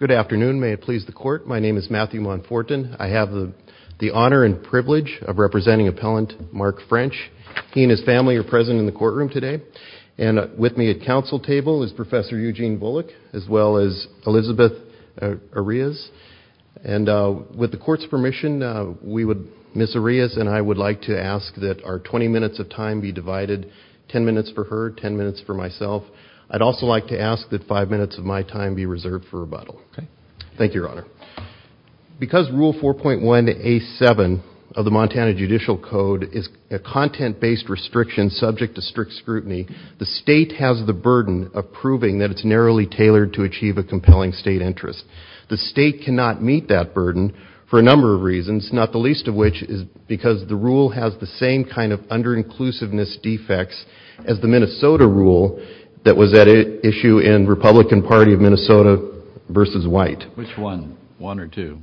Good afternoon. May it please the court, my name is Matthew Monfortin. I have the honor and privilege of representing appellant Mark French. He and his family are present in the courtroom today. And with me at council table is Professor Eugene Bullock, as well as Elizabeth Arias. And with the court's permission, we would, Ms. Arias and I would like to ask that our 20 minutes of time be divided, 10 minutes for her, 10 minutes for myself. I'd also like to ask that 5 minutes of my time be reserved for rebuttal. Thank you, Your Honor. Because Rule 4.1A.7 of the Montana Judicial Code is a content-based restriction subject to strict scrutiny, the state has the burden of proving that it's narrowly tailored to achieve a compelling state interest. The state cannot meet that burden for a number of reasons, not the least of which is because the rule has the same kind of under-inclusiveness defects as the Minnesota rule that was at issue in Republican Party of Minnesota v. White. Which one? One or two?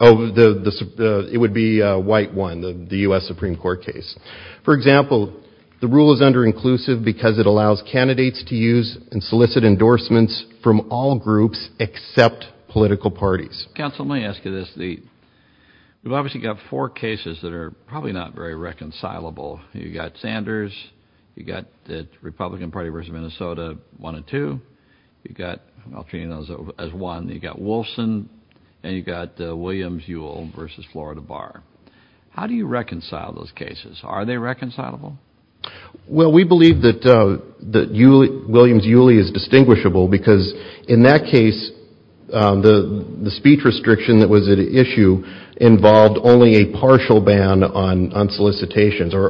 Oh, it would be White 1, the U.S. Supreme Court case. For example, the rule is under-inclusive because it allows candidates to use and solicit endorsements from all groups except political parties. Counsel, may I ask you this? We've obviously got four cases that are probably not very reconcilable. You've got Sanders, you've got the Republican Party v. Minnesota 1 and 2, you've got, I'll treat you as one, you've got Wolfson, and you've got Williams-Yule v. Florida Bar. How do you reconcile those cases? Are they reconcilable? Well, we believe that Williams-Yule is distinguishable because in that case, the speech restriction that was at issue involved only a partial ban on solicitations or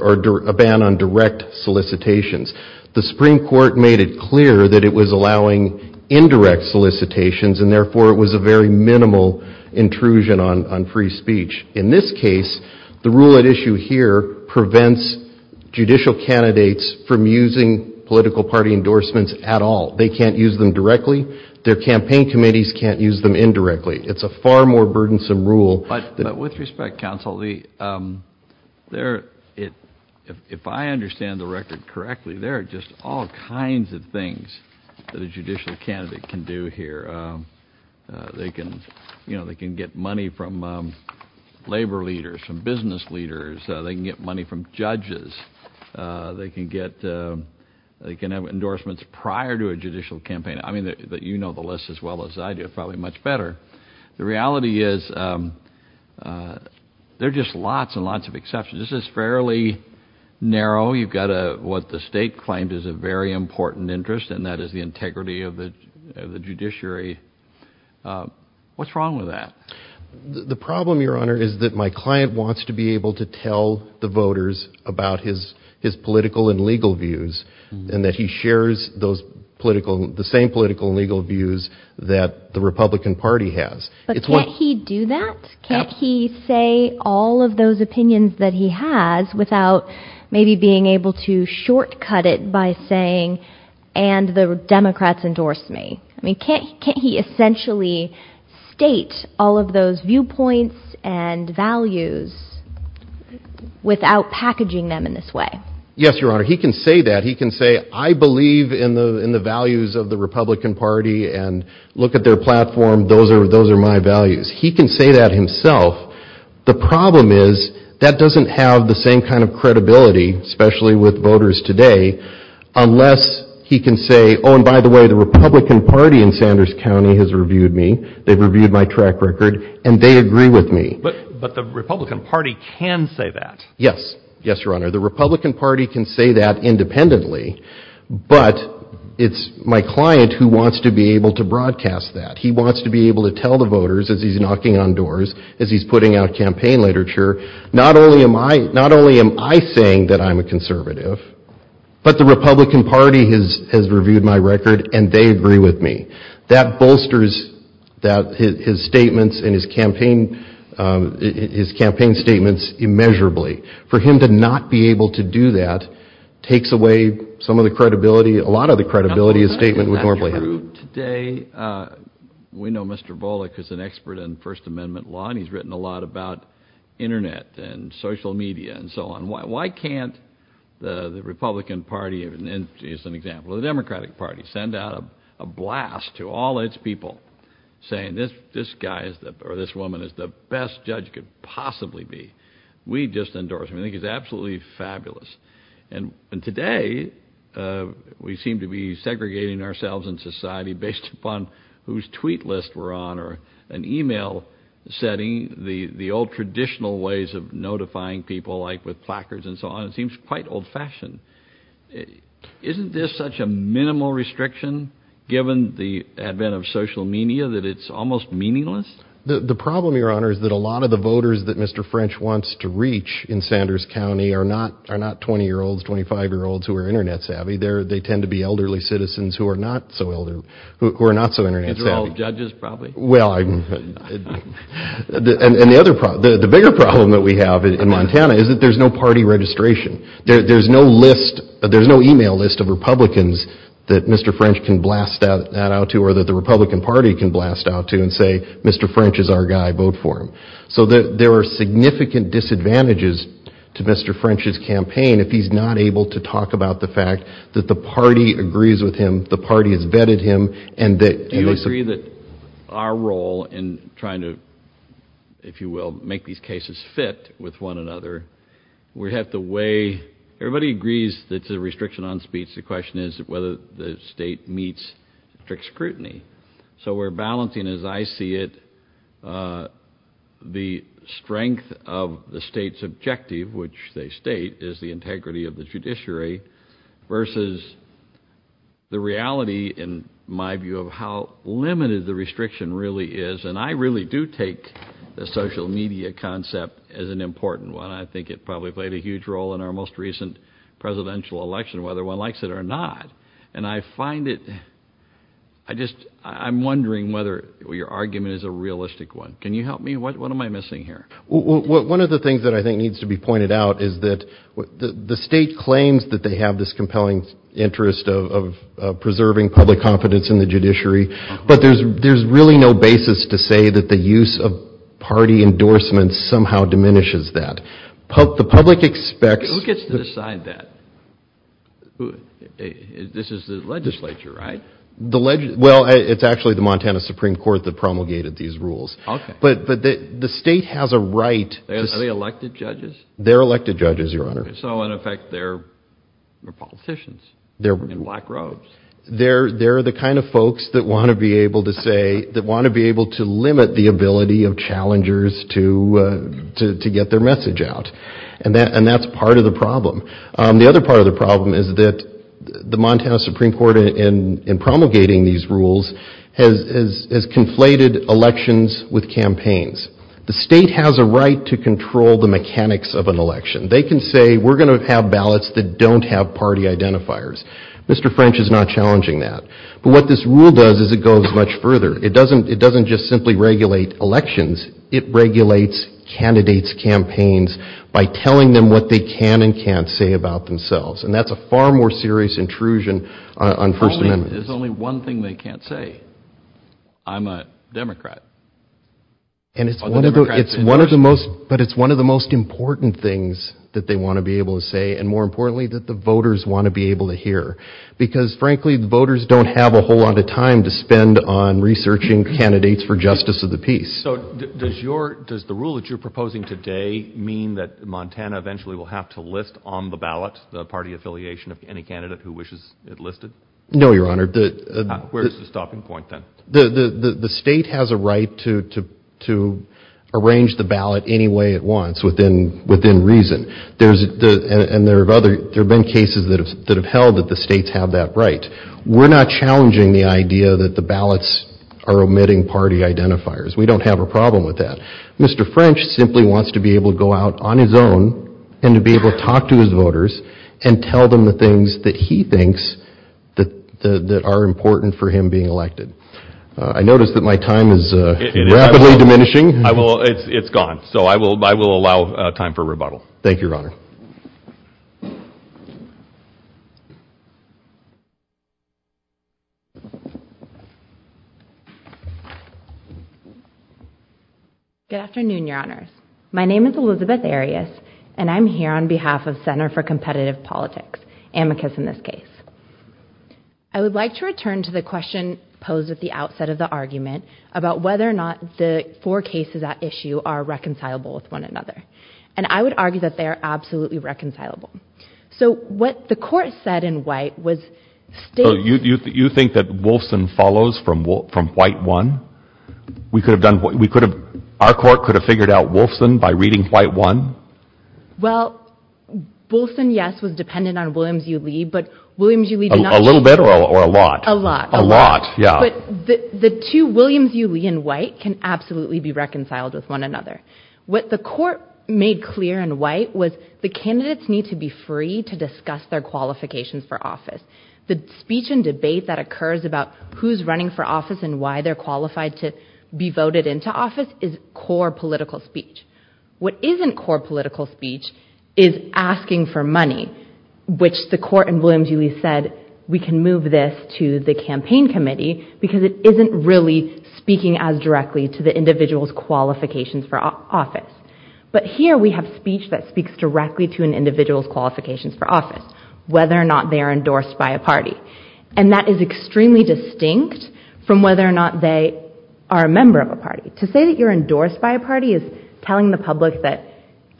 a ban on direct solicitations. The Supreme Court made it clear that it was allowing indirect solicitations and therefore it was a very minimal intrusion on free speech. In this case, the rule at issue here prevents judicial candidates from using political party endorsements at all. They can't use them directly. Their campaign committees can't use them indirectly. It's a far more burdensome rule. But with respect, Counsel, if I understand the record correctly, there are just all kinds of things that a judicial candidate can do here. They can, you know, they can get money from judges. They can get, they can have endorsements prior to a judicial campaign. I mean that you know the list as well as I do, probably much better. The reality is there are just lots and lots of exceptions. This is fairly narrow. You've got what the state claimed is a very important interest and that is the integrity of the judiciary. What's wrong with that? The problem, Your Honor, is that my client wants to be able to tell the voters about his political and legal views and that he shares those political, the same political and legal views that the Republican Party has. But can't he do that? Can't he say all of those opinions that he has without maybe being able to shortcut it by saying, and the Democrats endorse me? I mean, can't he essentially state all of those viewpoints and values without packaging them in this way? Yes, Your Honor. He can say that. He can say, I believe in the values of the Republican Party and look at their platform. Those are my values. He can say that himself. The problem is that doesn't have the same kind of credibility, especially with voters today, unless he can say, oh, and by the way, the Republican Party in Sanders County has reviewed me. They've reviewed my track record and they agree with me. But the Republican Party can say that. Yes. Yes, Your Honor. The Republican Party can say that independently, but it's my client who wants to be able to broadcast that. He wants to be able to tell the voters as he's knocking on doors, as he's putting out campaign literature, not only am I not only am I saying that I'm a conservative, but the Republican Party has has reviewed my record and they agree with me. That bolsters that his statements and his campaign, his campaign statements immeasurably. For him to not be able to do that takes away some of the credibility, a lot of the credibility a statement would normally have. Today, we know Mr. Volokh is an expert in First Amendment law and he's written a lot about Internet and social media and so on. Why can't the Republican Party, as an example, the Democratic Party send out a blast to all its people saying this guy or this woman is the best judge could possibly be. We just endorse him. I think he's absolutely fabulous. And today, we seem to be segregating ourselves in society based upon whose tweet list we're on or an email setting, the old traditional ways of notifying people like with placards and so on. It seems quite old-fashioned. Isn't this such a minimal restriction given the advent of social media that it's almost meaningless? The problem, Your Honor, is that a lot of the voters that Mr. French wants to reach in Sanders County are not 20-year-olds, 25-year-olds who are Internet savvy. They tend to be elderly citizens who are not so Internet savvy. These are all judges, probably? Well, and the other problem, the bigger problem that we have in Montana is that there's no party registration. There's no list, there's no email list of Republicans that Mr. French can blast that out to or that the Republican Party can blast out to and say Mr. French is our guy, vote for him. So there are significant disadvantages to Mr. French's campaign if he's not able to talk about the fact that the party agrees with him, the party has vetted him, and that... Our role in trying to, if you will, make these cases fit with one another, we have to weigh... Everybody agrees that the restriction on speech, the question is whether the state meets strict scrutiny. So we're balancing, as I see it, the strength of the state's objective, which they state is the integrity of the judiciary, versus the reality in my view of how limited the restriction really is. And I really do take the social media concept as an important one. I think it probably played a huge role in our most recent presidential election, whether one likes it or not. And I find it, I just, I'm wondering whether your argument is a realistic one. Can you help me? What am I missing here? One of the things that I think needs to be pointed out is that the state claims that they have this compelling interest of preserving public confidence in the judiciary, but there's really no basis to say that the use of party endorsements somehow diminishes that. The public expects... Who gets to decide that? This is the legislature, right? Well, it's actually the Montana Supreme Court that promulgated these rules. Okay. But the state has a right... Are they elected judges? They're elected judges, your honor. So in effect, they're politicians in black robes. They're the kind of folks that want to be able to say, that want to be able to limit the ability of challengers to get their message out. And that's part of the problem. The other part of the problem is that the Montana Supreme Court, in promulgating these rules, has conflated elections with campaigns. The state has a right to control the mechanics of an election. They can say, we're going to have ballots that don't have party identifiers. Mr. French is not challenging that. But what this rule does is it goes much further. It doesn't just simply regulate elections, it regulates candidates' campaigns by telling them what they can and can't say about themselves. And that's a far more serious intrusion on First Amendment. There's only one thing they can't say. I'm a Democrat. And it's one of the most... But it's one of the most important things that they want to be able to say, and more importantly, that the voters want to be able to hear. Because frankly, voters don't have a whole lot of time to spend on researching candidates for justice of the peace. So does the rule that you're proposing today mean that Montana eventually will have to list on the ballot the party affiliation of any candidate who wishes it listed? No, Your Honor. Where's the stopping point then? The state has a right to arrange the ballot any way it wants within reason. And there have been cases that have held that the states have that right. We're not challenging the idea that the ballots are omitting party identifiers. We don't have a problem with that. Mr. French simply wants to be able to go out on his own and to be able to talk to his voters and tell them the things that he thinks that are important for him being elected. I noticed that my time is rapidly diminishing. It's gone. So I will allow time for rebuttal. Thank you, Your Honor. Good afternoon, Your Honors. My name is Elizabeth Arias, and I'm here on behalf of Center for Justice. And I have a question posed at the outset of the argument about whether or not the four cases at issue are reconcilable with one another. And I would argue that they are absolutely reconcilable. So what the court said in white was... You think that Wolfson follows from White 1? Our court could have figured out Wolfson by reading White 1? Well, Wolfson, yes, was dependent on Williams U. Lee, but Williams U. Lee... A little bit or a lot? A lot. But the two, Williams U. Lee and White, can absolutely be reconciled with one another. What the court made clear in white was the candidates need to be free to discuss their qualifications for office. The speech and debate that occurs about who's running for office and why they're qualified to be voted into office is core political speech. What isn't core political speech is asking for money, which the court in Williams U. Lee said, we can move this to the campaign committee because it isn't really speaking as directly to the individual's qualifications for office. But here we have speech that speaks directly to an individual's qualifications for office, whether or not they're endorsed by a party. And that is extremely distinct from whether or not they are a member of a party. To say that you're endorsed by a party is telling the public that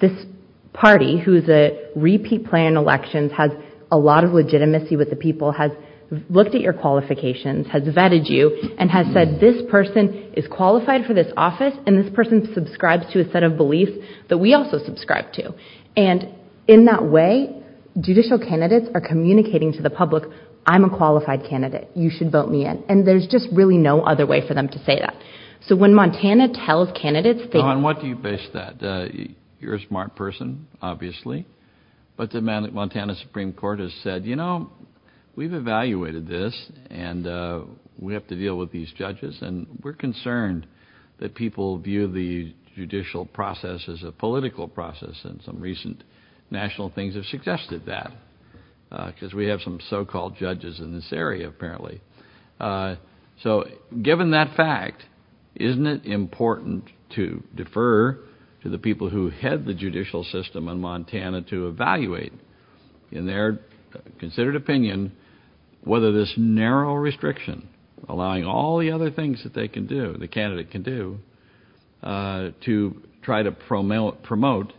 this party, who is a repeat player in elections, has a lot of legitimacy with the people, has looked at your qualifications, has vetted you, and has said this person is qualified for this office and this person subscribes to a set of beliefs that we also subscribe to. And in that way, judicial candidates are communicating to the public, I'm a qualified candidate, you should vote me in. And there's just really no other way for them to say that. So when Montana tells candidates... What do you base that? You're a smart person, obviously. But the Montana Supreme Court has said, you know, we've evaluated this, and we have to deal with these judges. And we're concerned that people view the judicial process as a political process. And some recent national things have suggested that, because we have some so-called judges in this area, apparently. So given that fact, isn't it important to defer to the people who head the judicial system in Montana to evaluate, in their considered opinion, whether this narrow restriction, allowing all the other things that they can do, the candidate can do, to try to promote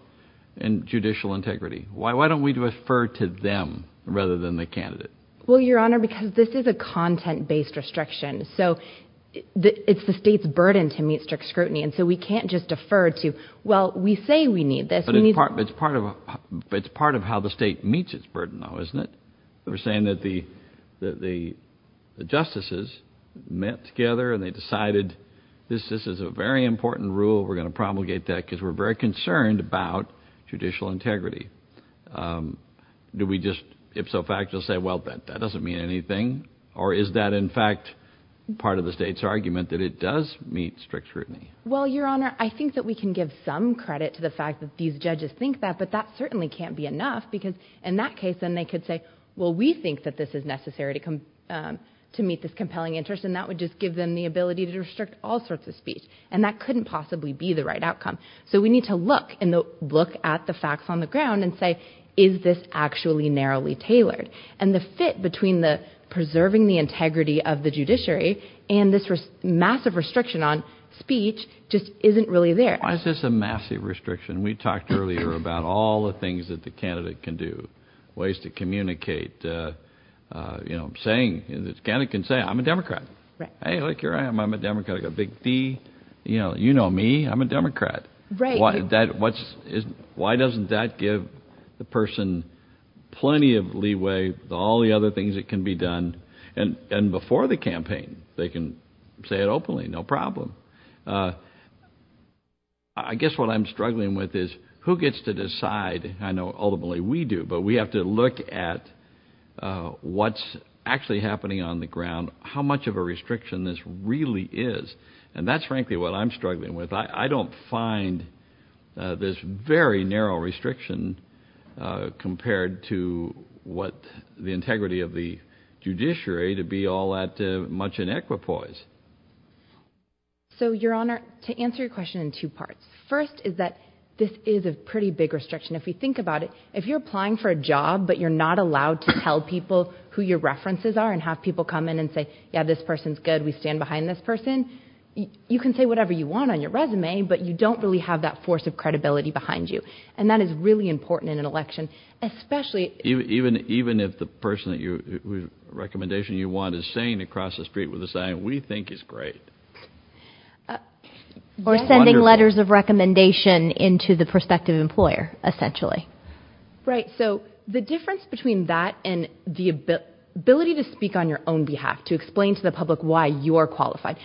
judicial integrity? Why don't we refer to them rather than the candidate? Well, Your Honor, because this is a content-based restriction. So it's the state's burden to meet strict scrutiny. And so we can't just defer to, well, we say we need this. But it's part of how the state meets its burden, though, isn't it? We're saying that the justices met together and they decided, this is a very important rule, we're going to promulgate that, because we're very concerned about judicial integrity. Do we just, ipso facto, say, well, that doesn't mean anything? Or is that, in fact, part of the state's argument that it does meet strict scrutiny? Well, Your Honor, I think that we can give some credit to the fact that these judges think that, but that certainly can't be enough. Because in that case, then they could say, well, we think that this is necessary to meet this compelling interest, and that would just give them the ability to restrict all sorts of speech. And that couldn't possibly be the right outcome. So we need to look and look at the facts on the ground and say, is this actually narrowly tailored? And the fit between the preserving the integrity of the judiciary and this massive restriction on speech just isn't really there. Why is this a massive restriction? We talked earlier about all the things that the candidate can do, ways to communicate, you know, saying, the candidate can say, I'm a Democrat. Hey, look, here I am, I'm a Democrat, I got a big D, you know, you know me, I'm a Democrat. Right. Why doesn't that give the person plenty of leeway, all the other things that can be done? And before the campaign, they can say it openly, no problem. I guess what I'm struggling with is, who gets to decide? I know, ultimately, we do, but we have to look at what's actually happening on the ground, how much of a restriction this is. And that's frankly what I'm struggling with. I don't find this very narrow restriction compared to what the integrity of the judiciary to be all that much in equipoise. So, Your Honor, to answer your question in two parts. First is that this is a pretty big restriction. If we think about it, if you're applying for a job, but you're not allowed to tell people who your references are and have people come in and say, yeah, this person's good, we stand behind this person. You can say whatever you want on your resume, but you don't really have that force of credibility behind you. And that is really important in an election, especially even if the person that your recommendation you want is saying across the street with a saying, we think is great. Or sending letters of recommendation into the prospective employer, essentially. Right. So the difference between that and the ability to speak on your own behalf, to explain to the public why you're qualified.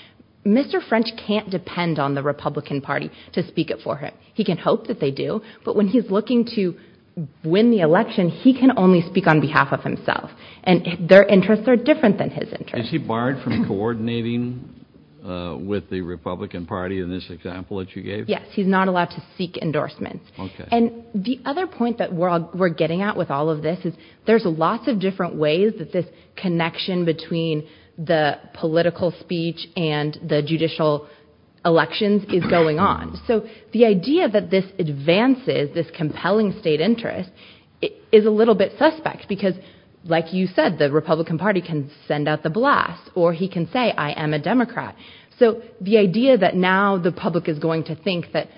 Mr. French can't depend on the Republican Party to speak up for him. He can hope that they do. But when he's looking to win the election, he can only speak on behalf of himself. And their interests are different than his interests. Is he barred from coordinating with the Republican Party in this example that you gave? Yes. He's not allowed to seek endorsements. And the other point that we're getting at with all this is there's lots of different ways that this connection between the political speech and the judicial elections is going on. So the idea that this advances this compelling state interest is a little bit suspect, because like you said, the Republican Party can send out the blast, or he can say, I am a Democrat. So the idea that now the public is going to think that,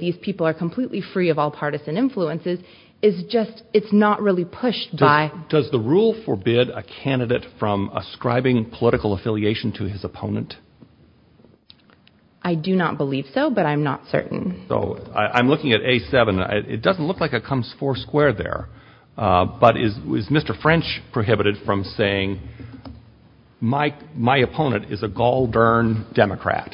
these people are completely free of all partisan influences, is just it's not really pushed by. Does the rule forbid a candidate from ascribing political affiliation to his opponent? I do not believe so, but I'm not certain. So I'm looking at A7. It doesn't look like it comes four square there. But is Mr. French prohibited from saying, my opponent is a gall-durn Democrat.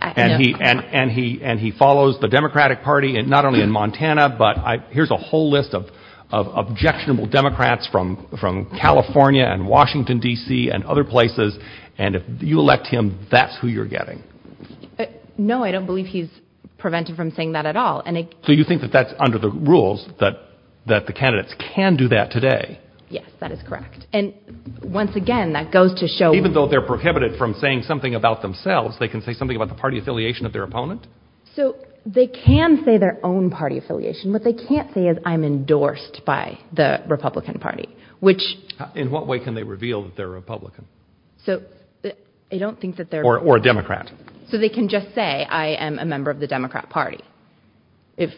And he follows the Democratic Party, not only in Montana, but here's a whole list of objectionable Democrats from California and Washington, D.C. and other places. And if you elect him, that's who you're getting. No, I don't believe he's prevented from saying that at all. So you think that that's under the rules, that the candidates can do that today? Yes, that is correct. And once again, that goes to show... Even though they're prohibited from saying something about themselves, they can say something about the party affiliation of their opponent? So they can say their own party affiliation. What they can't say is, I'm endorsed by the Republican Party, which... In what way can they reveal that they're Republican? So I don't think that they're... Or a Democrat. So they can just say, I am a member of the Democrat Party, if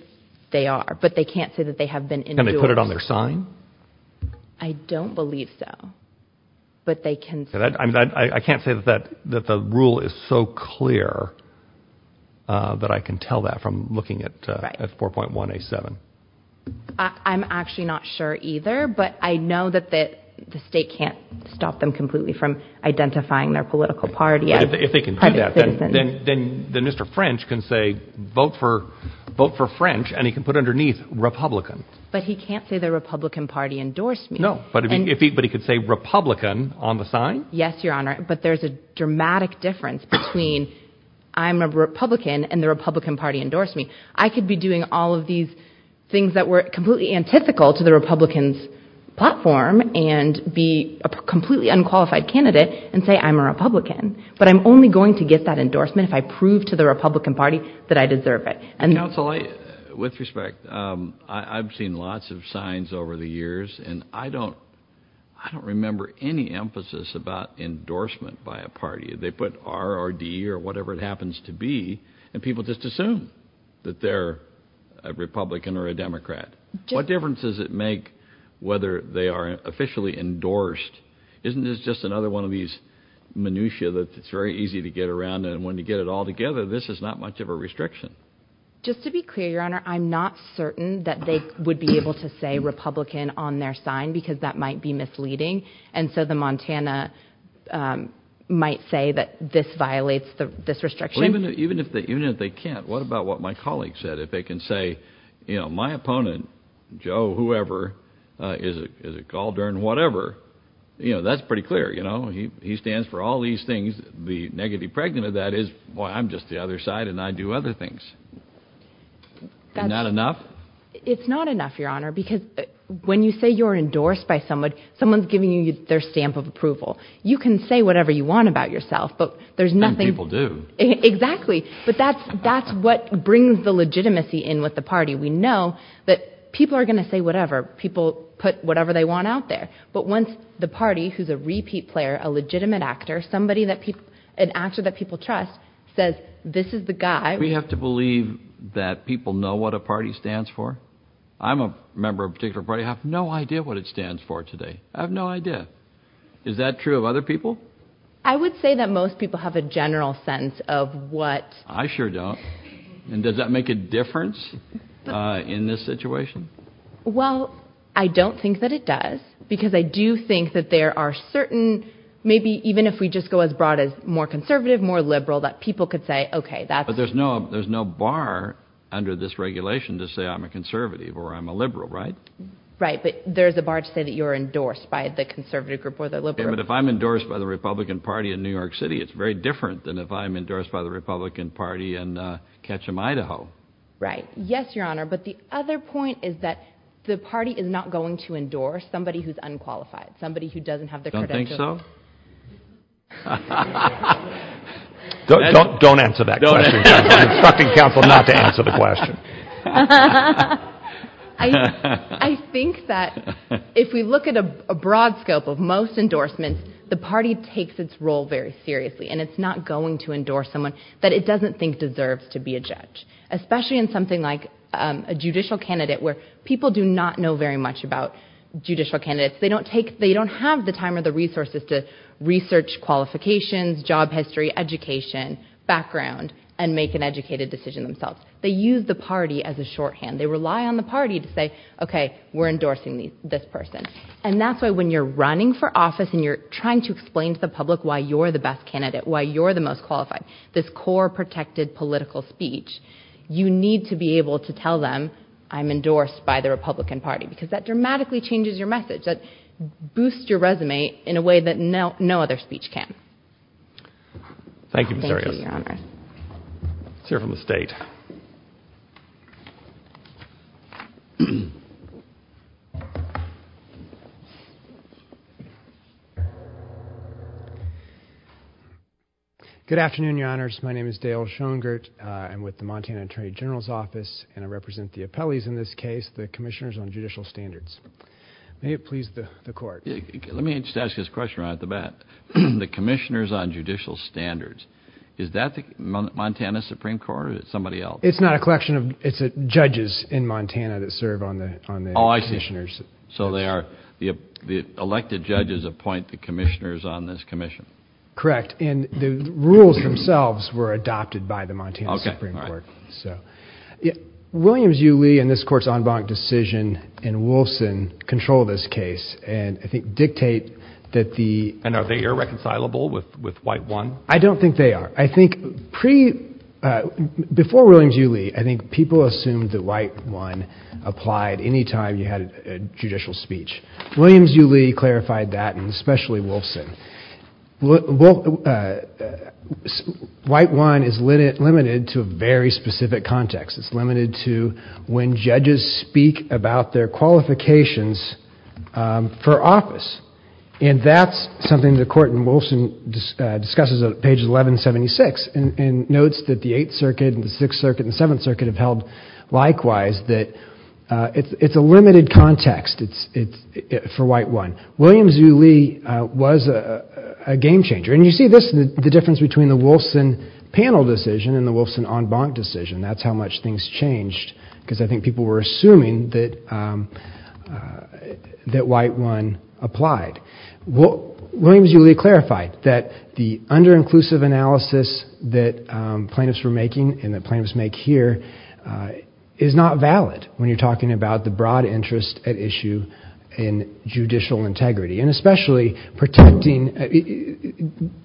they are, but they can't say that they have been endorsed. And they put it on their sign? I don't believe so. But they can... I can't say that the rule is so clear that I can tell that from looking at 4.187. I'm actually not sure either, but I know that the state can't stop them completely from identifying their political party as private citizens. If they can do that, then Mr. French can say, vote for French, and he can put underneath Republican. But he can't say the Republican Party endorsed me. No, but he could say Republican on the sign? Yes, Your Honor, but there's a dramatic difference between I'm a Republican and the Republican Party endorsed me. I could be doing all of these things that were completely antithetical to the Republican's platform and be a completely unqualified candidate and say, I'm a Republican, but I'm only going to get that endorsement if I prove to the Republican Party that I deserve it. Counsel, with respect, I've seen lots of signs over the years, and I don't remember any emphasis about endorsement by a party. They put R or D or whatever it happens to be, and people just assume that they're a Republican or a Democrat. What difference does it make whether they are officially endorsed? Isn't this just another one of these minutia that it's very easy to get around? And when you get it all together, this is not much of a restriction. Just to be clear, Your Honor, I'm not certain that they would be able to say Republican on their sign because that might be misleading. And so the Montana might say that this violates this restriction. Even if they can't, what about what my colleague said? If they can say, you know, my opponent, Joe, whoever, is a cauldron, whatever, you know, that's pretty clear, you know, he stands for all these things. The negative pregnant of that is, well, I'm just the other side and I do other things. That's not enough. It's not enough, Your Honor, because when you say you're endorsed by someone, someone's giving you their stamp of approval. You can say whatever you want about yourself, but there's nothing people do. Exactly. But that's that's what brings the legitimacy in with the party. We know that people are going to say whatever people put whatever they want out there. But once the party who's a repeat player, a legitimate actor, somebody that people an actor that people trust says this is the guy. We have to believe that people know what a party stands for. I'm a member of a particular party. I have no idea what it stands for today. I have no idea. Is that true of other people? I would say that most people have a general sense of what. I sure don't. And does that make a difference in this situation? Well, I don't think that it does, because I do think that there are certain, maybe even if we just go as broad as more conservative, more liberal, that people could say, OK, but there's no there's no bar under this regulation to say I'm a conservative or I'm a liberal, right? Right. But there's a bar to say that you're endorsed by the conservative group or the liberal. But if I'm endorsed by the Republican Party in New York City, it's very different than if I'm endorsed by the Republican Party in Ketchum, Idaho. Right. Yes, your honor. But the other point is that the party is not going to endorse somebody who's unqualified, somebody who doesn't have the. I don't think so. I don't don't answer that. Don't instructing counsel not to answer the question. I think that if we look at a broad scope of most endorsements, the party takes its role very seriously. And it's not going to endorse someone that it doesn't think deserves to be a judge, especially in something like a judicial candidate where people do not know very much about judicial candidates. They don't take they don't have the time or the resources to research qualifications, job history, education, background, and make an educated decision themselves. They use the party as a shorthand. They rely on the party to say, OK, we're endorsing this person. And that's why when you're running for office and you're trying to explain to the public why you're the best candidate, why you're the most qualified, this core protected political speech, you need to be able to tell them I'm endorsed by the Republican Party because that boosts your resume in a way that no other speech can. Thank you, Ms. Arias. Thank you, Your Honor. Let's hear from the state. Good afternoon, Your Honors. My name is Dale Schoengerdt. I'm with the Montana Attorney General's Office, and I represent the appellees in this case, the commissioners on judicial standards. May it please the court. Let me just ask this question right off the bat. The commissioners on judicial standards, is that the Montana Supreme Court or is it somebody else? It's not a collection of it's judges in Montana that serve on the on the commissioners. So they are the elected judges appoint the commissioners on this commission. Correct. And the rules themselves were adopted by the Montana Supreme Court. So, yeah, Williams-Yu Lee and this court's en banc decision and Wolfson control this case. And I think dictate that the- And are they irreconcilable with White One? I don't think they are. I think pre, before Williams-Yu Lee, I think people assumed that White One applied anytime you had a judicial speech. Williams-Yu Lee clarified that and especially Wolfson. Well, White One is limited to a very specific context. It's limited to when judges speak about their qualifications for office. And that's something the court in Wolfson discusses on page 1176 and notes that the Eighth Circuit and the Sixth Circuit and the Seventh Circuit have held likewise that it's a limited context for White One. Williams-Yu Lee was a game changer. And you see this, the difference between the Wolfson panel decision and the Wolfson en banc decision. That's how much things changed because I think people were assuming that White One applied. Williams-Yu Lee clarified that the under-inclusive analysis that plaintiffs were making and that plaintiffs make here is not valid when you're talking about the broad interest at issue in judicial integrity. And especially protecting,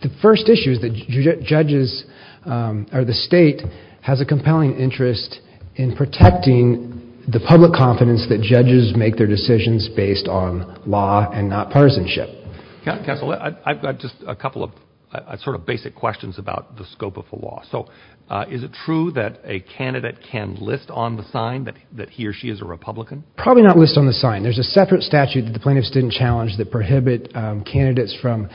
the first issue is that judges or the state has a compelling interest in protecting the public confidence that judges make their decisions based on law and not partisanship. Counsel, I've got just a couple of sort of basic questions about the scope of the law. So is it true that a candidate can list on the sign that he or she is a Republican? Probably not list on the sign. There's a separate statute that the plaintiffs didn't challenge that prohibit candidates from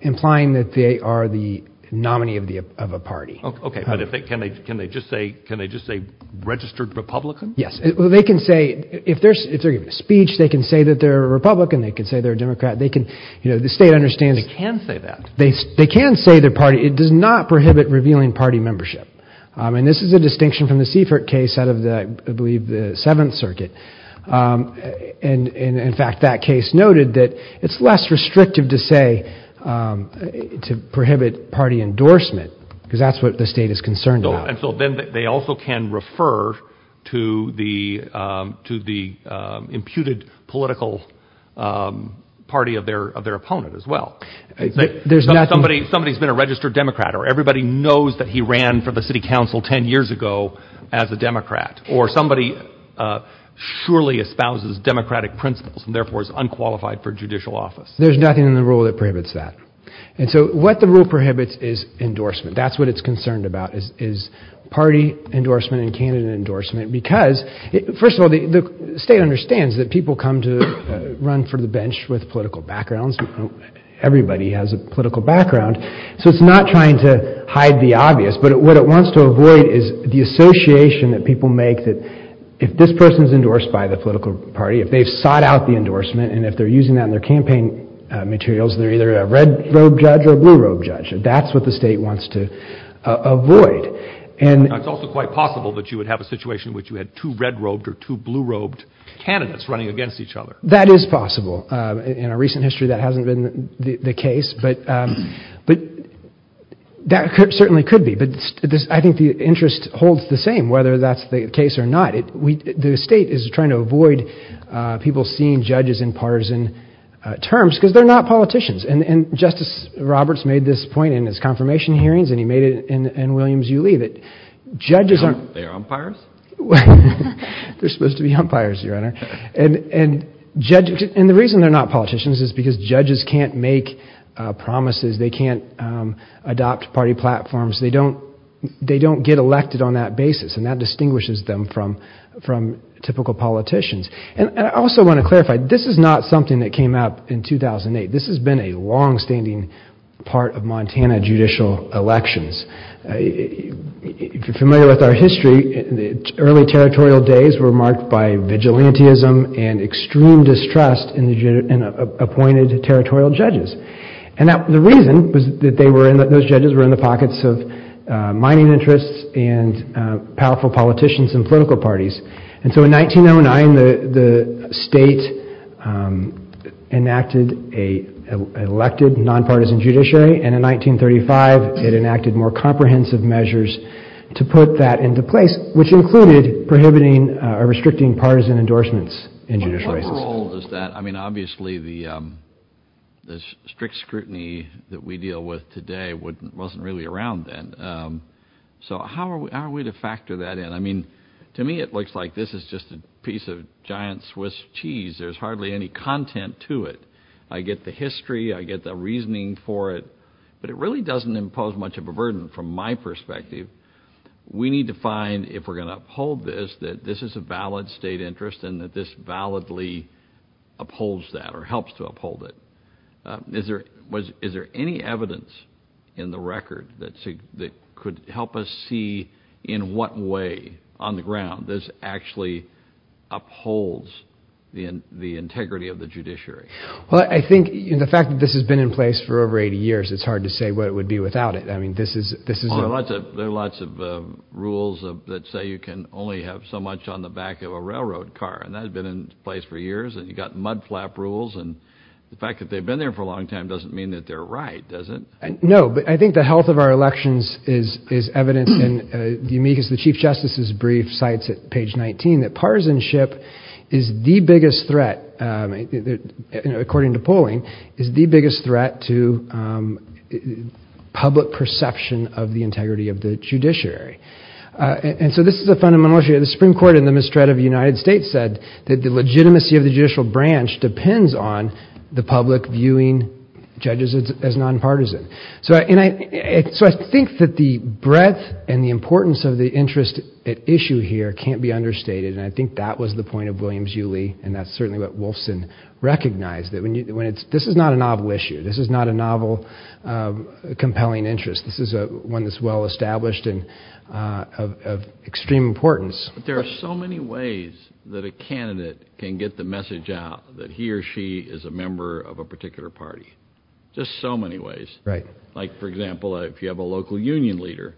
implying that they are the nominee of a party. Okay. But can they just say registered Republican? Yes. They can say, if they're giving a speech, they can say that they're a Republican. They can say they're a Democrat. They can, you know, the state understands. They can say that. They can say their party. It does not prohibit revealing party membership. And this is a distinction from the Seifert case out of the, I believe the seventh circuit. And in fact, that case noted that it's less restrictive to say, to prohibit party endorsement because that's what the state is concerned about. And so then they also can refer to the imputed political party of their opponent as well. Somebody's been a registered Democrat, or everybody knows that he ran for the city council 10 years ago as a Democrat, or somebody surely espouses democratic principles and therefore is unqualified for judicial office. There's nothing in the rule that prohibits that. And so what the rule prohibits is endorsement. That's what it's concerned about is party endorsement and candidate endorsement, because first of all, the state understands that people come to run for the bench with political backgrounds. Everybody has a political background. So it's not trying to hide the obvious, but what it wants to avoid is the association that people make that if this person is endorsed by the political party, if they've sought out the endorsement, and if they're using that in their campaign materials, they're either a red robe judge or blue robe judge. That's what the state wants to avoid. And it's also quite possible that you would have a situation in which you had two red robed or two blue robed candidates running against each other. That is possible. In our recent history, that hasn't been the case, but that certainly could be. But I think the interest holds the same, whether that's the case or not. The state is trying to avoid people seeing judges in partisan terms because they're not politicians. And Justice Roberts made this point in his confirmation hearings, and he made it in Williams v. Yulee, that judges aren't— Aren't they umpires? They're supposed to be umpires, Your Honor. And the reason they're not politicians is because judges can't make promises. They can't adopt party platforms. They don't get elected on that basis, and that distinguishes them from typical politicians. And I also want to clarify, this is not something that came out in 2008. This has been a longstanding part of Montana judicial elections. If you're familiar with our history, the early territorial days were marked by vigilantism and extreme distrust in appointed territorial judges. And the reason was that those judges were in the pockets of mining interests and powerful politicians and political parties. And so in 1909, the state enacted an elected, nonpartisan judiciary. And in 1935, it enacted more comprehensive measures to put that into place, which included prohibiting or restricting partisan endorsements in judicial races. But what role does that—I mean, obviously, the strict scrutiny that we deal with today wasn't really around then. So how are we to factor that in? I mean, to me, it looks like this is just a piece of giant Swiss cheese. There's hardly any content to it. I get the history. I get the reasoning for it. But it really doesn't impose much of a burden from my perspective. We need to find, if we're going to uphold this, that this is a valid state interest and that this validly upholds that or helps to uphold it. Is there any evidence in the record that could help us see in what way, on the ground, this actually upholds the integrity of the judiciary? Well, I think the fact that this has been in place for over 80 years, it's hard to say what it would be without it. I mean, this is— Well, there are lots of rules that say you can only have so much on the back of a railroad car. And that has been in place for years. And you've got mudflap rules. And the fact that they've been there for a long time doesn't mean that they're right, does it? No. But I think the health of our elections is evidenced in the Chief Justice's brief, cites at page 19, that partisanship is the biggest threat, and according to polling, is the biggest threat to public perception of the integrity of the judiciary. And so this is a fundamental issue. The Supreme Court in the mistreat of the United States said that the legitimacy of the judicial branch depends on the public viewing judges as nonpartisan. So I think that the breadth and the importance of the interest at issue here can't be understated. And I think that was the point of Williams-Yu Lee. And that's certainly what Wolfson recognized, that this is not a novel issue. This is not a novel, compelling interest. This is one that's well-established and of extreme importance. But there are so many ways that a candidate can get the message out that he or she is a member of a particular party. Just so many ways. Right. Like, for example, if you have a local union leader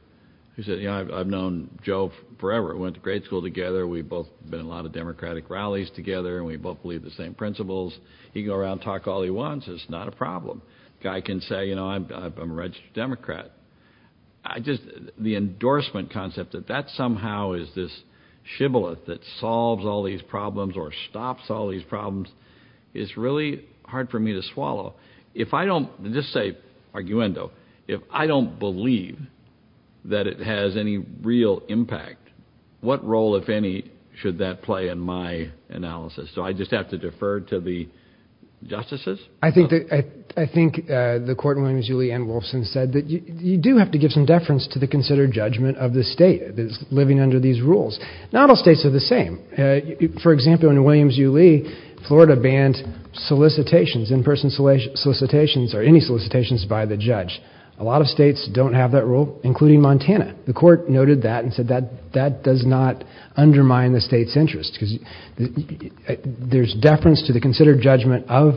who said, I've known Joe forever. Went to grade school together. We've both been in a lot of Democratic rallies together, and we both believe the same principles. He can go around and talk all he wants. It's not a problem. Guy can say, you know, I'm a registered Democrat. The endorsement concept that that somehow is this shibboleth that solves all these problems or stops all these problems, it's really hard for me to swallow. If I don't just say, arguendo, if I don't believe that it has any real impact, what role, if any, should that play in my analysis? So I just have to defer to the justices? I think the court in Williams v. Lee and Wolfson said that you do have to give some deference to the considered judgment of the state that's living under these rules. Not all states are the same. For example, in Williams v. Lee, Florida banned solicitations, in-person solicitations or any solicitations by the judge. A lot of states don't have that rule, including Montana. The court noted that and said that does not undermine the state's interest because there's deference to the considered judgment of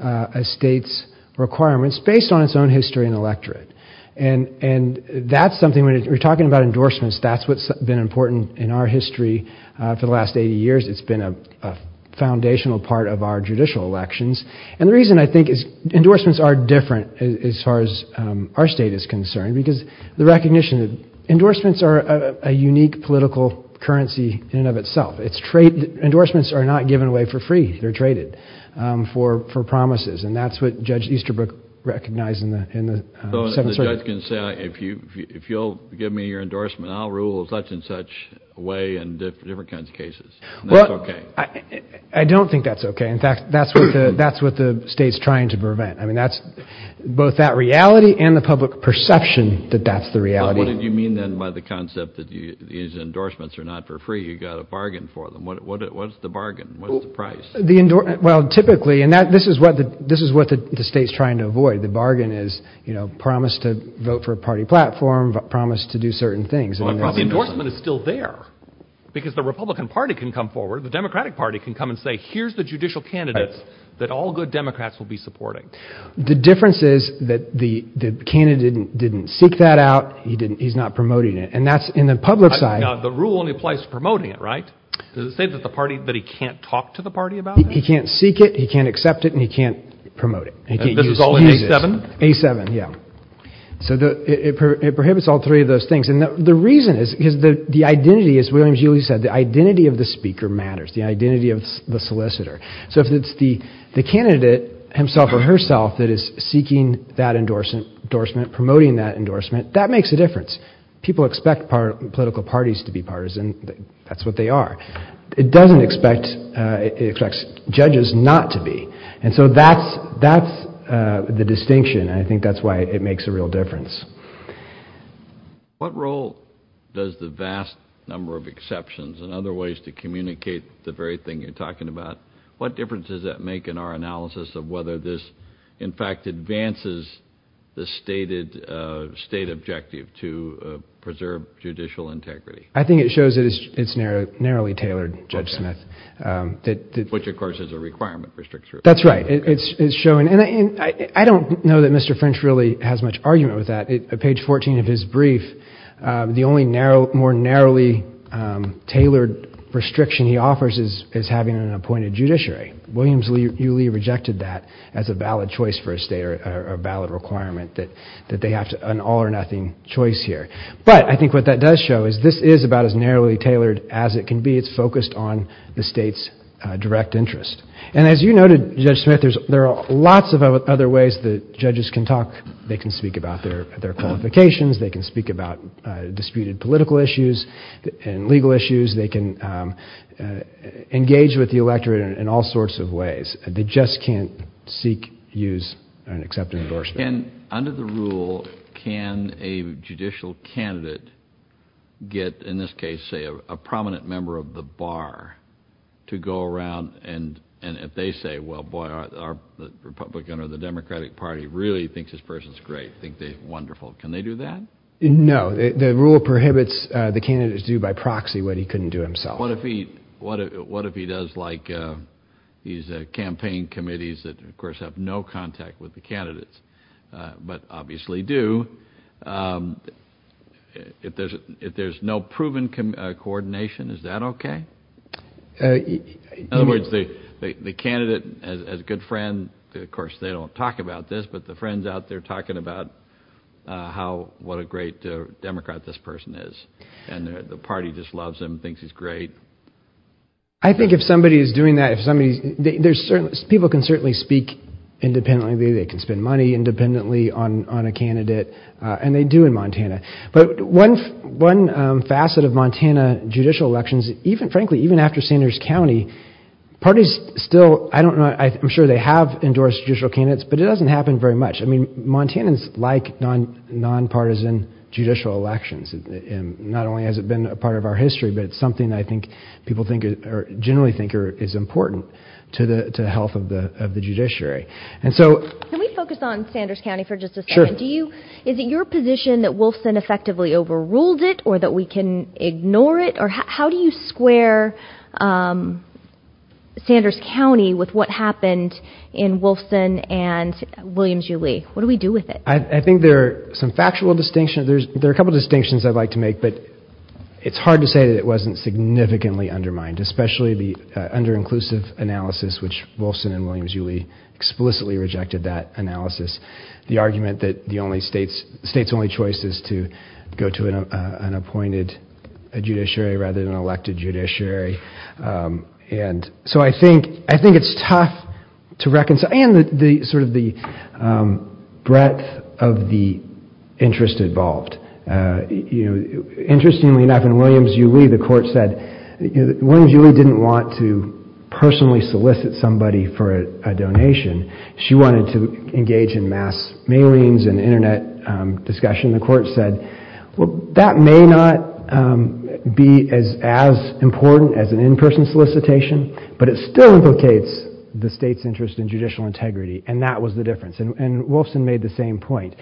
a state's requirements based on its own history and electorate. And that's something, when we're talking about endorsements, that's what's been important in our history for the last 80 years. It's been a foundational part of our judicial elections. And the reason I think is endorsements are different as far as our state is concerned, because the recognition that endorsements are a unique political currency in and of itself. It's trade. Endorsements are not given away for free. They're traded for promises. And that's what Judge Easterbrook recognized in the Seventh Circuit. So the judge can say, if you'll give me your endorsement, I'll rule in such and such a way in different kinds of cases. Well, I don't think that's okay. In fact, that's what the state's trying to prevent. That's both that reality and the public perception that that's the reality. What did you mean then by the concept that these endorsements are not for free? You've got to bargain for them. What's the bargain? What's the price? Well, typically, and this is what the state's trying to avoid. The bargain is promise to vote for a party platform, promise to do certain things. Well, the endorsement is still there, because the Republican Party can come forward. The Democratic Party can come and say, here's the judicial candidates that all good Democrats will be supporting. The difference is that the candidate didn't seek that out. He didn't. He's not promoting it. And that's in the public side. The rule only applies to promoting it, right? Does it say that the party, that he can't talk to the party about it? He can't seek it. He can't accept it. And he can't promote it. And this is all in A7? A7, yeah. So it prohibits all three of those things. And the reason is because the identity, as William Julie said, the identity of the speaker matters, the identity of the solicitor. So if it's the candidate himself or herself that is seeking that endorsement, promoting that endorsement, that makes a difference. People expect political parties to be partisan. That's what they are. It doesn't expect, it expects judges not to be. And so that's the distinction. And I think that's why it makes a real difference. What role does the vast number of exceptions and other ways to communicate the very thing you're talking about? What difference does that make in our analysis of whether this, in fact, advances the stated state objective to preserve judicial integrity? I think it shows that it's narrowly tailored, Judge Smith. Which, of course, is a requirement restriction. That's right. It's showing. And I don't know that Mr. French really has much argument with that. Page 14 of his brief, the only more narrowly tailored restriction he offers is having an appointed judiciary. William Julie rejected that as a valid choice for a state or a valid requirement that they have an all or nothing choice here. But I think what that does show is this is about as narrowly tailored as it can be. It's focused on the state's direct interest. And as you noted, Judge Smith, there are lots of other ways that judges can talk, they can speak about their qualifications. They can speak about disputed political issues and legal issues. They can engage with the electorate in all sorts of ways. They just can't seek, use, and accept an endorsement. And under the rule, can a judicial candidate get, in this case, say, a prominent member of the bar to go around and if they say, well, boy, our Republican or the Democratic Party really thinks this person's great, think they're wonderful, can they do that? No. The rule prohibits the candidate to do by proxy what he couldn't do himself. What if he does like these campaign committees that, of course, have no contact with the candidates but obviously do, if there's no proven coordination, is that okay? In other words, the candidate as a good friend, of course, they don't talk about this, but the friend's out there talking about what a great Democrat this person is. And the party just loves him, thinks he's great. I think if somebody is doing that, people can certainly speak independently. They can spend money independently on a candidate, and they do in Montana. But one facet of Montana judicial elections, frankly, even after Sanders County, parties still, I don't know, I'm sure they have endorsed judicial candidates, but it doesn't happen very much. I mean, Montanans like non-partisan judicial elections. Not only has it been a part of our history, but it's something I think people generally think is important to the health of the judiciary. Can we focus on Sanders County for just a second? Sure. Is it your position that Wolfson effectively overruled it or that we can ignore it? How do you square Sanders County with what happened in Wolfson and Williams-Ulee? What do we do with it? I think there are some factual distinctions. There are a couple of distinctions I'd like to make, but it's hard to say that it wasn't significantly undermined, especially the under-inclusive analysis, which Wolfson and Williams-Ulee explicitly rejected that analysis. The argument that the state's only choice is to go to an appointed judiciary rather than an elected judiciary. And so I think it's tough to reconcile, and sort of the breadth of the interest involved. Interestingly enough, in Williams-Ulee, the court said Williams-Ulee didn't want to personally solicit somebody for a donation. She wanted to engage in mass mailings and internet discussion. The court said, well, that may not be as important as an in-person solicitation, but it still implicates the state's interest in judicial integrity. And that was the difference. And Wolfson made the same point.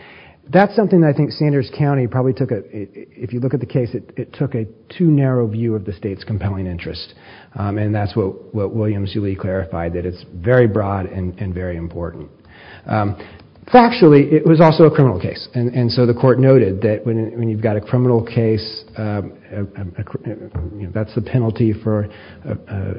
That's something that I think Sanders County probably took, if you look at the case, it took a too narrow view of the state's compelling interest. And that's what Williams-Ulee clarified, that it's very broad and very important. Factually, it was also a criminal case. And so the court noted that when you've got a criminal case, that's the penalty for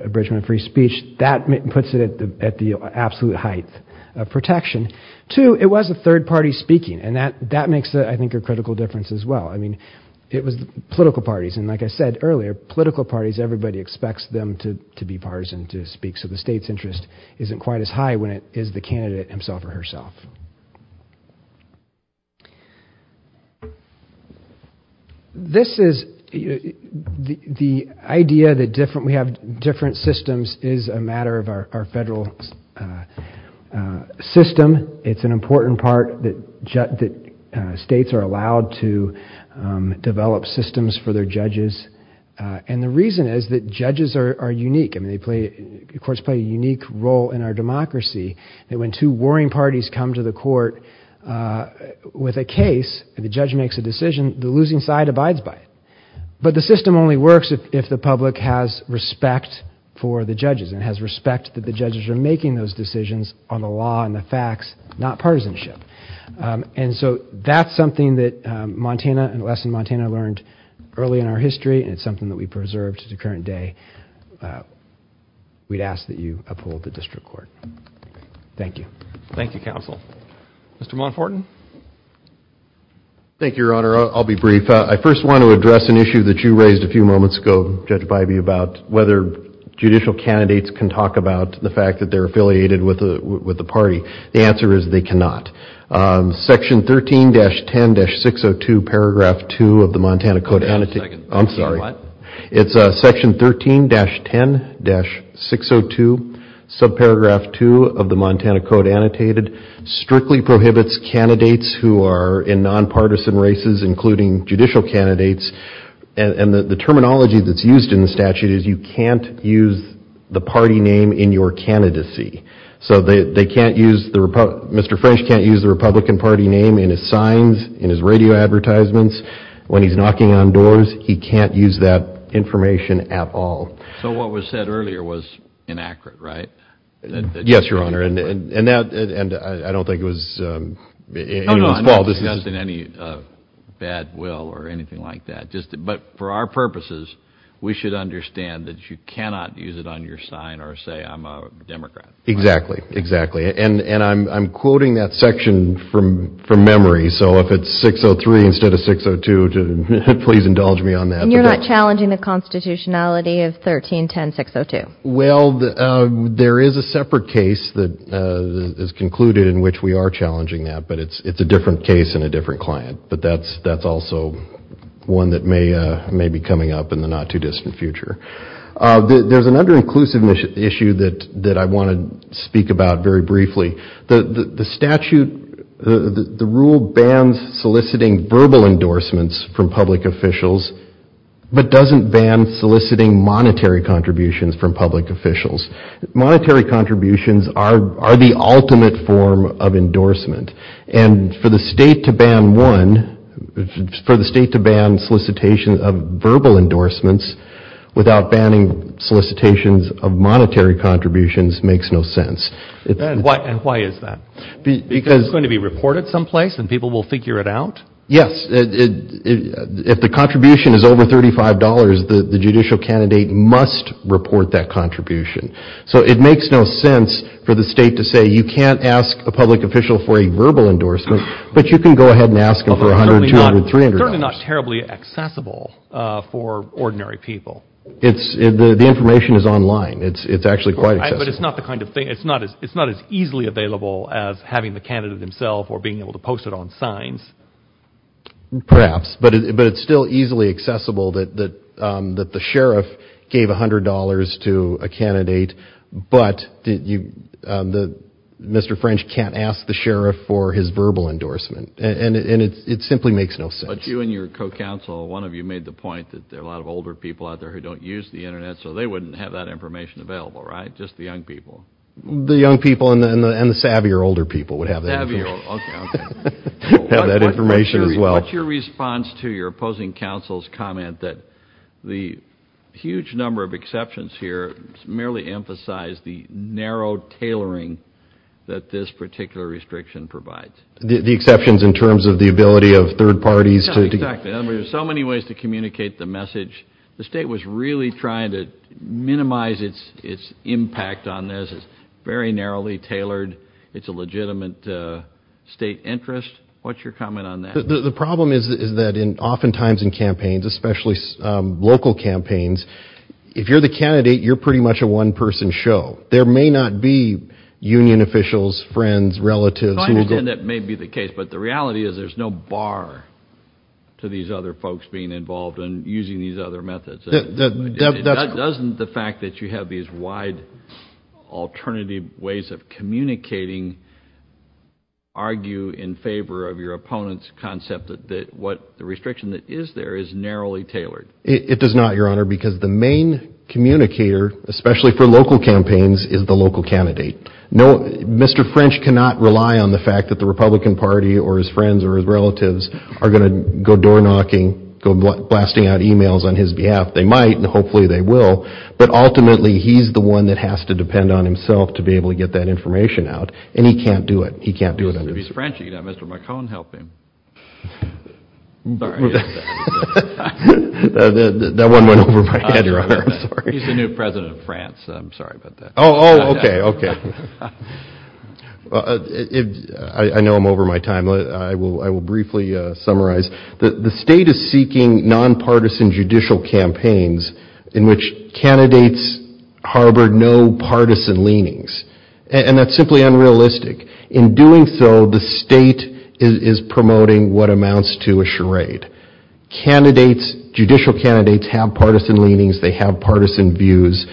abridgment of free speech. That puts it at the absolute height of protection. Two, it was a third party speaking. And that makes, I think, a critical difference as well. I mean, it was political parties. And like I said earlier, political parties, everybody expects them to be partisan to speak. So the state's interest isn't quite as high when it is the candidate himself or herself. This is the idea that we have different systems is a matter of our federal system. It's an important part that states are allowed to develop systems for their judges. And the reason is that judges are unique. I mean, courts play a unique role in our democracy. And when two warring parties come to the court with a case, the judge makes a decision, the losing side abides by it. But the system only works if the public has respect for the judges and has respect that judges are making those decisions on the law and the facts, not partisanship. And so that's something that Montana and the lesson Montana learned early in our history. And it's something that we preserved to the current day. We'd ask that you uphold the district court. Thank you. Thank you, counsel. Mr. Monfortin. Thank you, Your Honor. I'll be brief. I first want to address an issue that you raised a few moments ago, Judge Bybee, about whether judicial candidates can talk about the fact that they're affiliated with the party. The answer is they cannot. Section 13-10-602, paragraph 2 of the Montana Code. Hold on a second. I'm sorry. What? It's section 13-10-602, subparagraph 2 of the Montana Code annotated, strictly prohibits candidates who are in nonpartisan races, including judicial candidates. And the terminology that's used in the statute is you can't use the party name in your candidacy. So they can't use the, Mr. French can't use the Republican party name in his signs, in his radio advertisements. When he's knocking on doors, he can't use that information at all. So what was said earlier was inaccurate, right? Yes, Your Honor. And I don't think it was anyone's fault. Not in any bad will or anything like that. But for our purposes, we should understand that you cannot use it on your sign or say, I'm a Democrat. Exactly. Exactly. And I'm quoting that section from memory. So if it's 603 instead of 602, please indulge me on that. And you're not challenging the constitutionality of 13-10-602? Well, there is a separate case that is concluded in which we are challenging that, it's a different case and a different client. But that's also one that may be coming up in the not too distant future. There's another inclusive issue that I want to speak about very briefly. The statute, the rule bans soliciting verbal endorsements from public officials, but doesn't ban soliciting monetary contributions from public officials. Monetary contributions are the ultimate form of endorsement. And for the state to ban solicitation of verbal endorsements without banning solicitations of monetary contributions makes no sense. And why is that? Because it's going to be reported someplace and people will figure it out? Yes. If the contribution is over $35, the judicial candidate must report that contribution. So it makes no sense for the state to say, you can't ask a public official for a verbal endorsement, but you can go ahead and ask them for $100, $200, $300. Certainly not terribly accessible for ordinary people. It's the information is online. It's actually quite accessible. But it's not the kind of thing, it's not as easily available as having the candidate himself or being able to post it on signs. Perhaps, but it's still easily accessible that the sheriff gave $100 to a candidate, but Mr. French can't ask the sheriff for his verbal endorsement. And it simply makes no sense. But you and your co-counsel, one of you made the point that there are a lot of older people out there who don't use the internet, so they wouldn't have that information available, right? Just the young people. The young people and the savvier older people would have that information as well. What's your response to your opposing counsel's comment that the huge number of exceptions here merely emphasize the narrow tailoring that this particular restriction provides? The exceptions in terms of the ability of third parties to... Exactly, there's so many ways to communicate the message. The state was really trying to minimize its impact on this. It's very narrowly tailored. It's a legitimate state interest. What's your comment on that? The problem is that oftentimes in campaigns, especially local campaigns, if you're the candidate, you're pretty much a one-person show. There may not be union officials, friends, relatives... I understand that may be the case, but the reality is there's no bar to these other folks being involved and using these other methods. Doesn't the fact that you have these wide alternative ways of communicating argue in favor of your opponent's concept that the restriction that is there is narrowly tailored? It does not, Your Honor, because the main communicator, especially for local campaigns, is the local candidate. Mr. French cannot rely on the fact that the Republican Party or his friends or his relatives are going to go door knocking, go blasting out emails on his behalf. They might, and hopefully they will, but ultimately he's the one that has to depend on himself to be able to get that information out. And he can't do it. He can't do it. If he's French, you can have Mr. McCone help him. That one went over my head, Your Honor. I'm sorry. He's the new president of France. I'm sorry about that. Oh, okay, okay. I know I'm over my time. I will briefly summarize. The state is seeking nonpartisan judicial campaigns in which candidates harbor no partisan leanings. And that's simply unrealistic. In doing so, the state is promoting what amounts to a charade. Candidates, judicial candidates have partisan leanings. They have partisan views.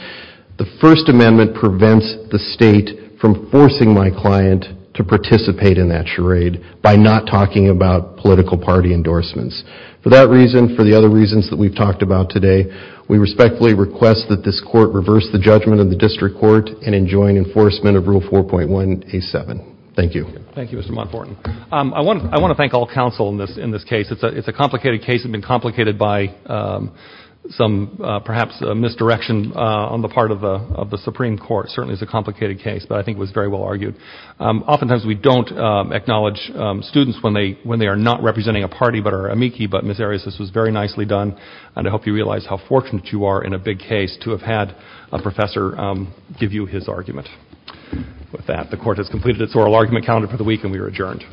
The First Amendment prevents the state from forcing my client to participate in that charade by not talking about political party endorsements. For that reason, for the other reasons that we've talked about today, we respectfully request that this court reverse the judgment of the district court and enjoin enforcement of Rule 4.1A7. Thank you. Thank you, Mr. Montfort. I want to thank all counsel in this case. It's a complicated case. It's been complicated by some, perhaps, misdirection on the part of the Supreme Court. Certainly, it's a complicated case, but I think it was very well argued. Oftentimes, we don't acknowledge students when they are not representing a party, but are amici. But Ms. Arias, this was very nicely done. And I hope you realize how fortunate you are in a big case to have had a professor give you his argument with that. The court has completed its oral argument calendar for the week, and we are adjourned.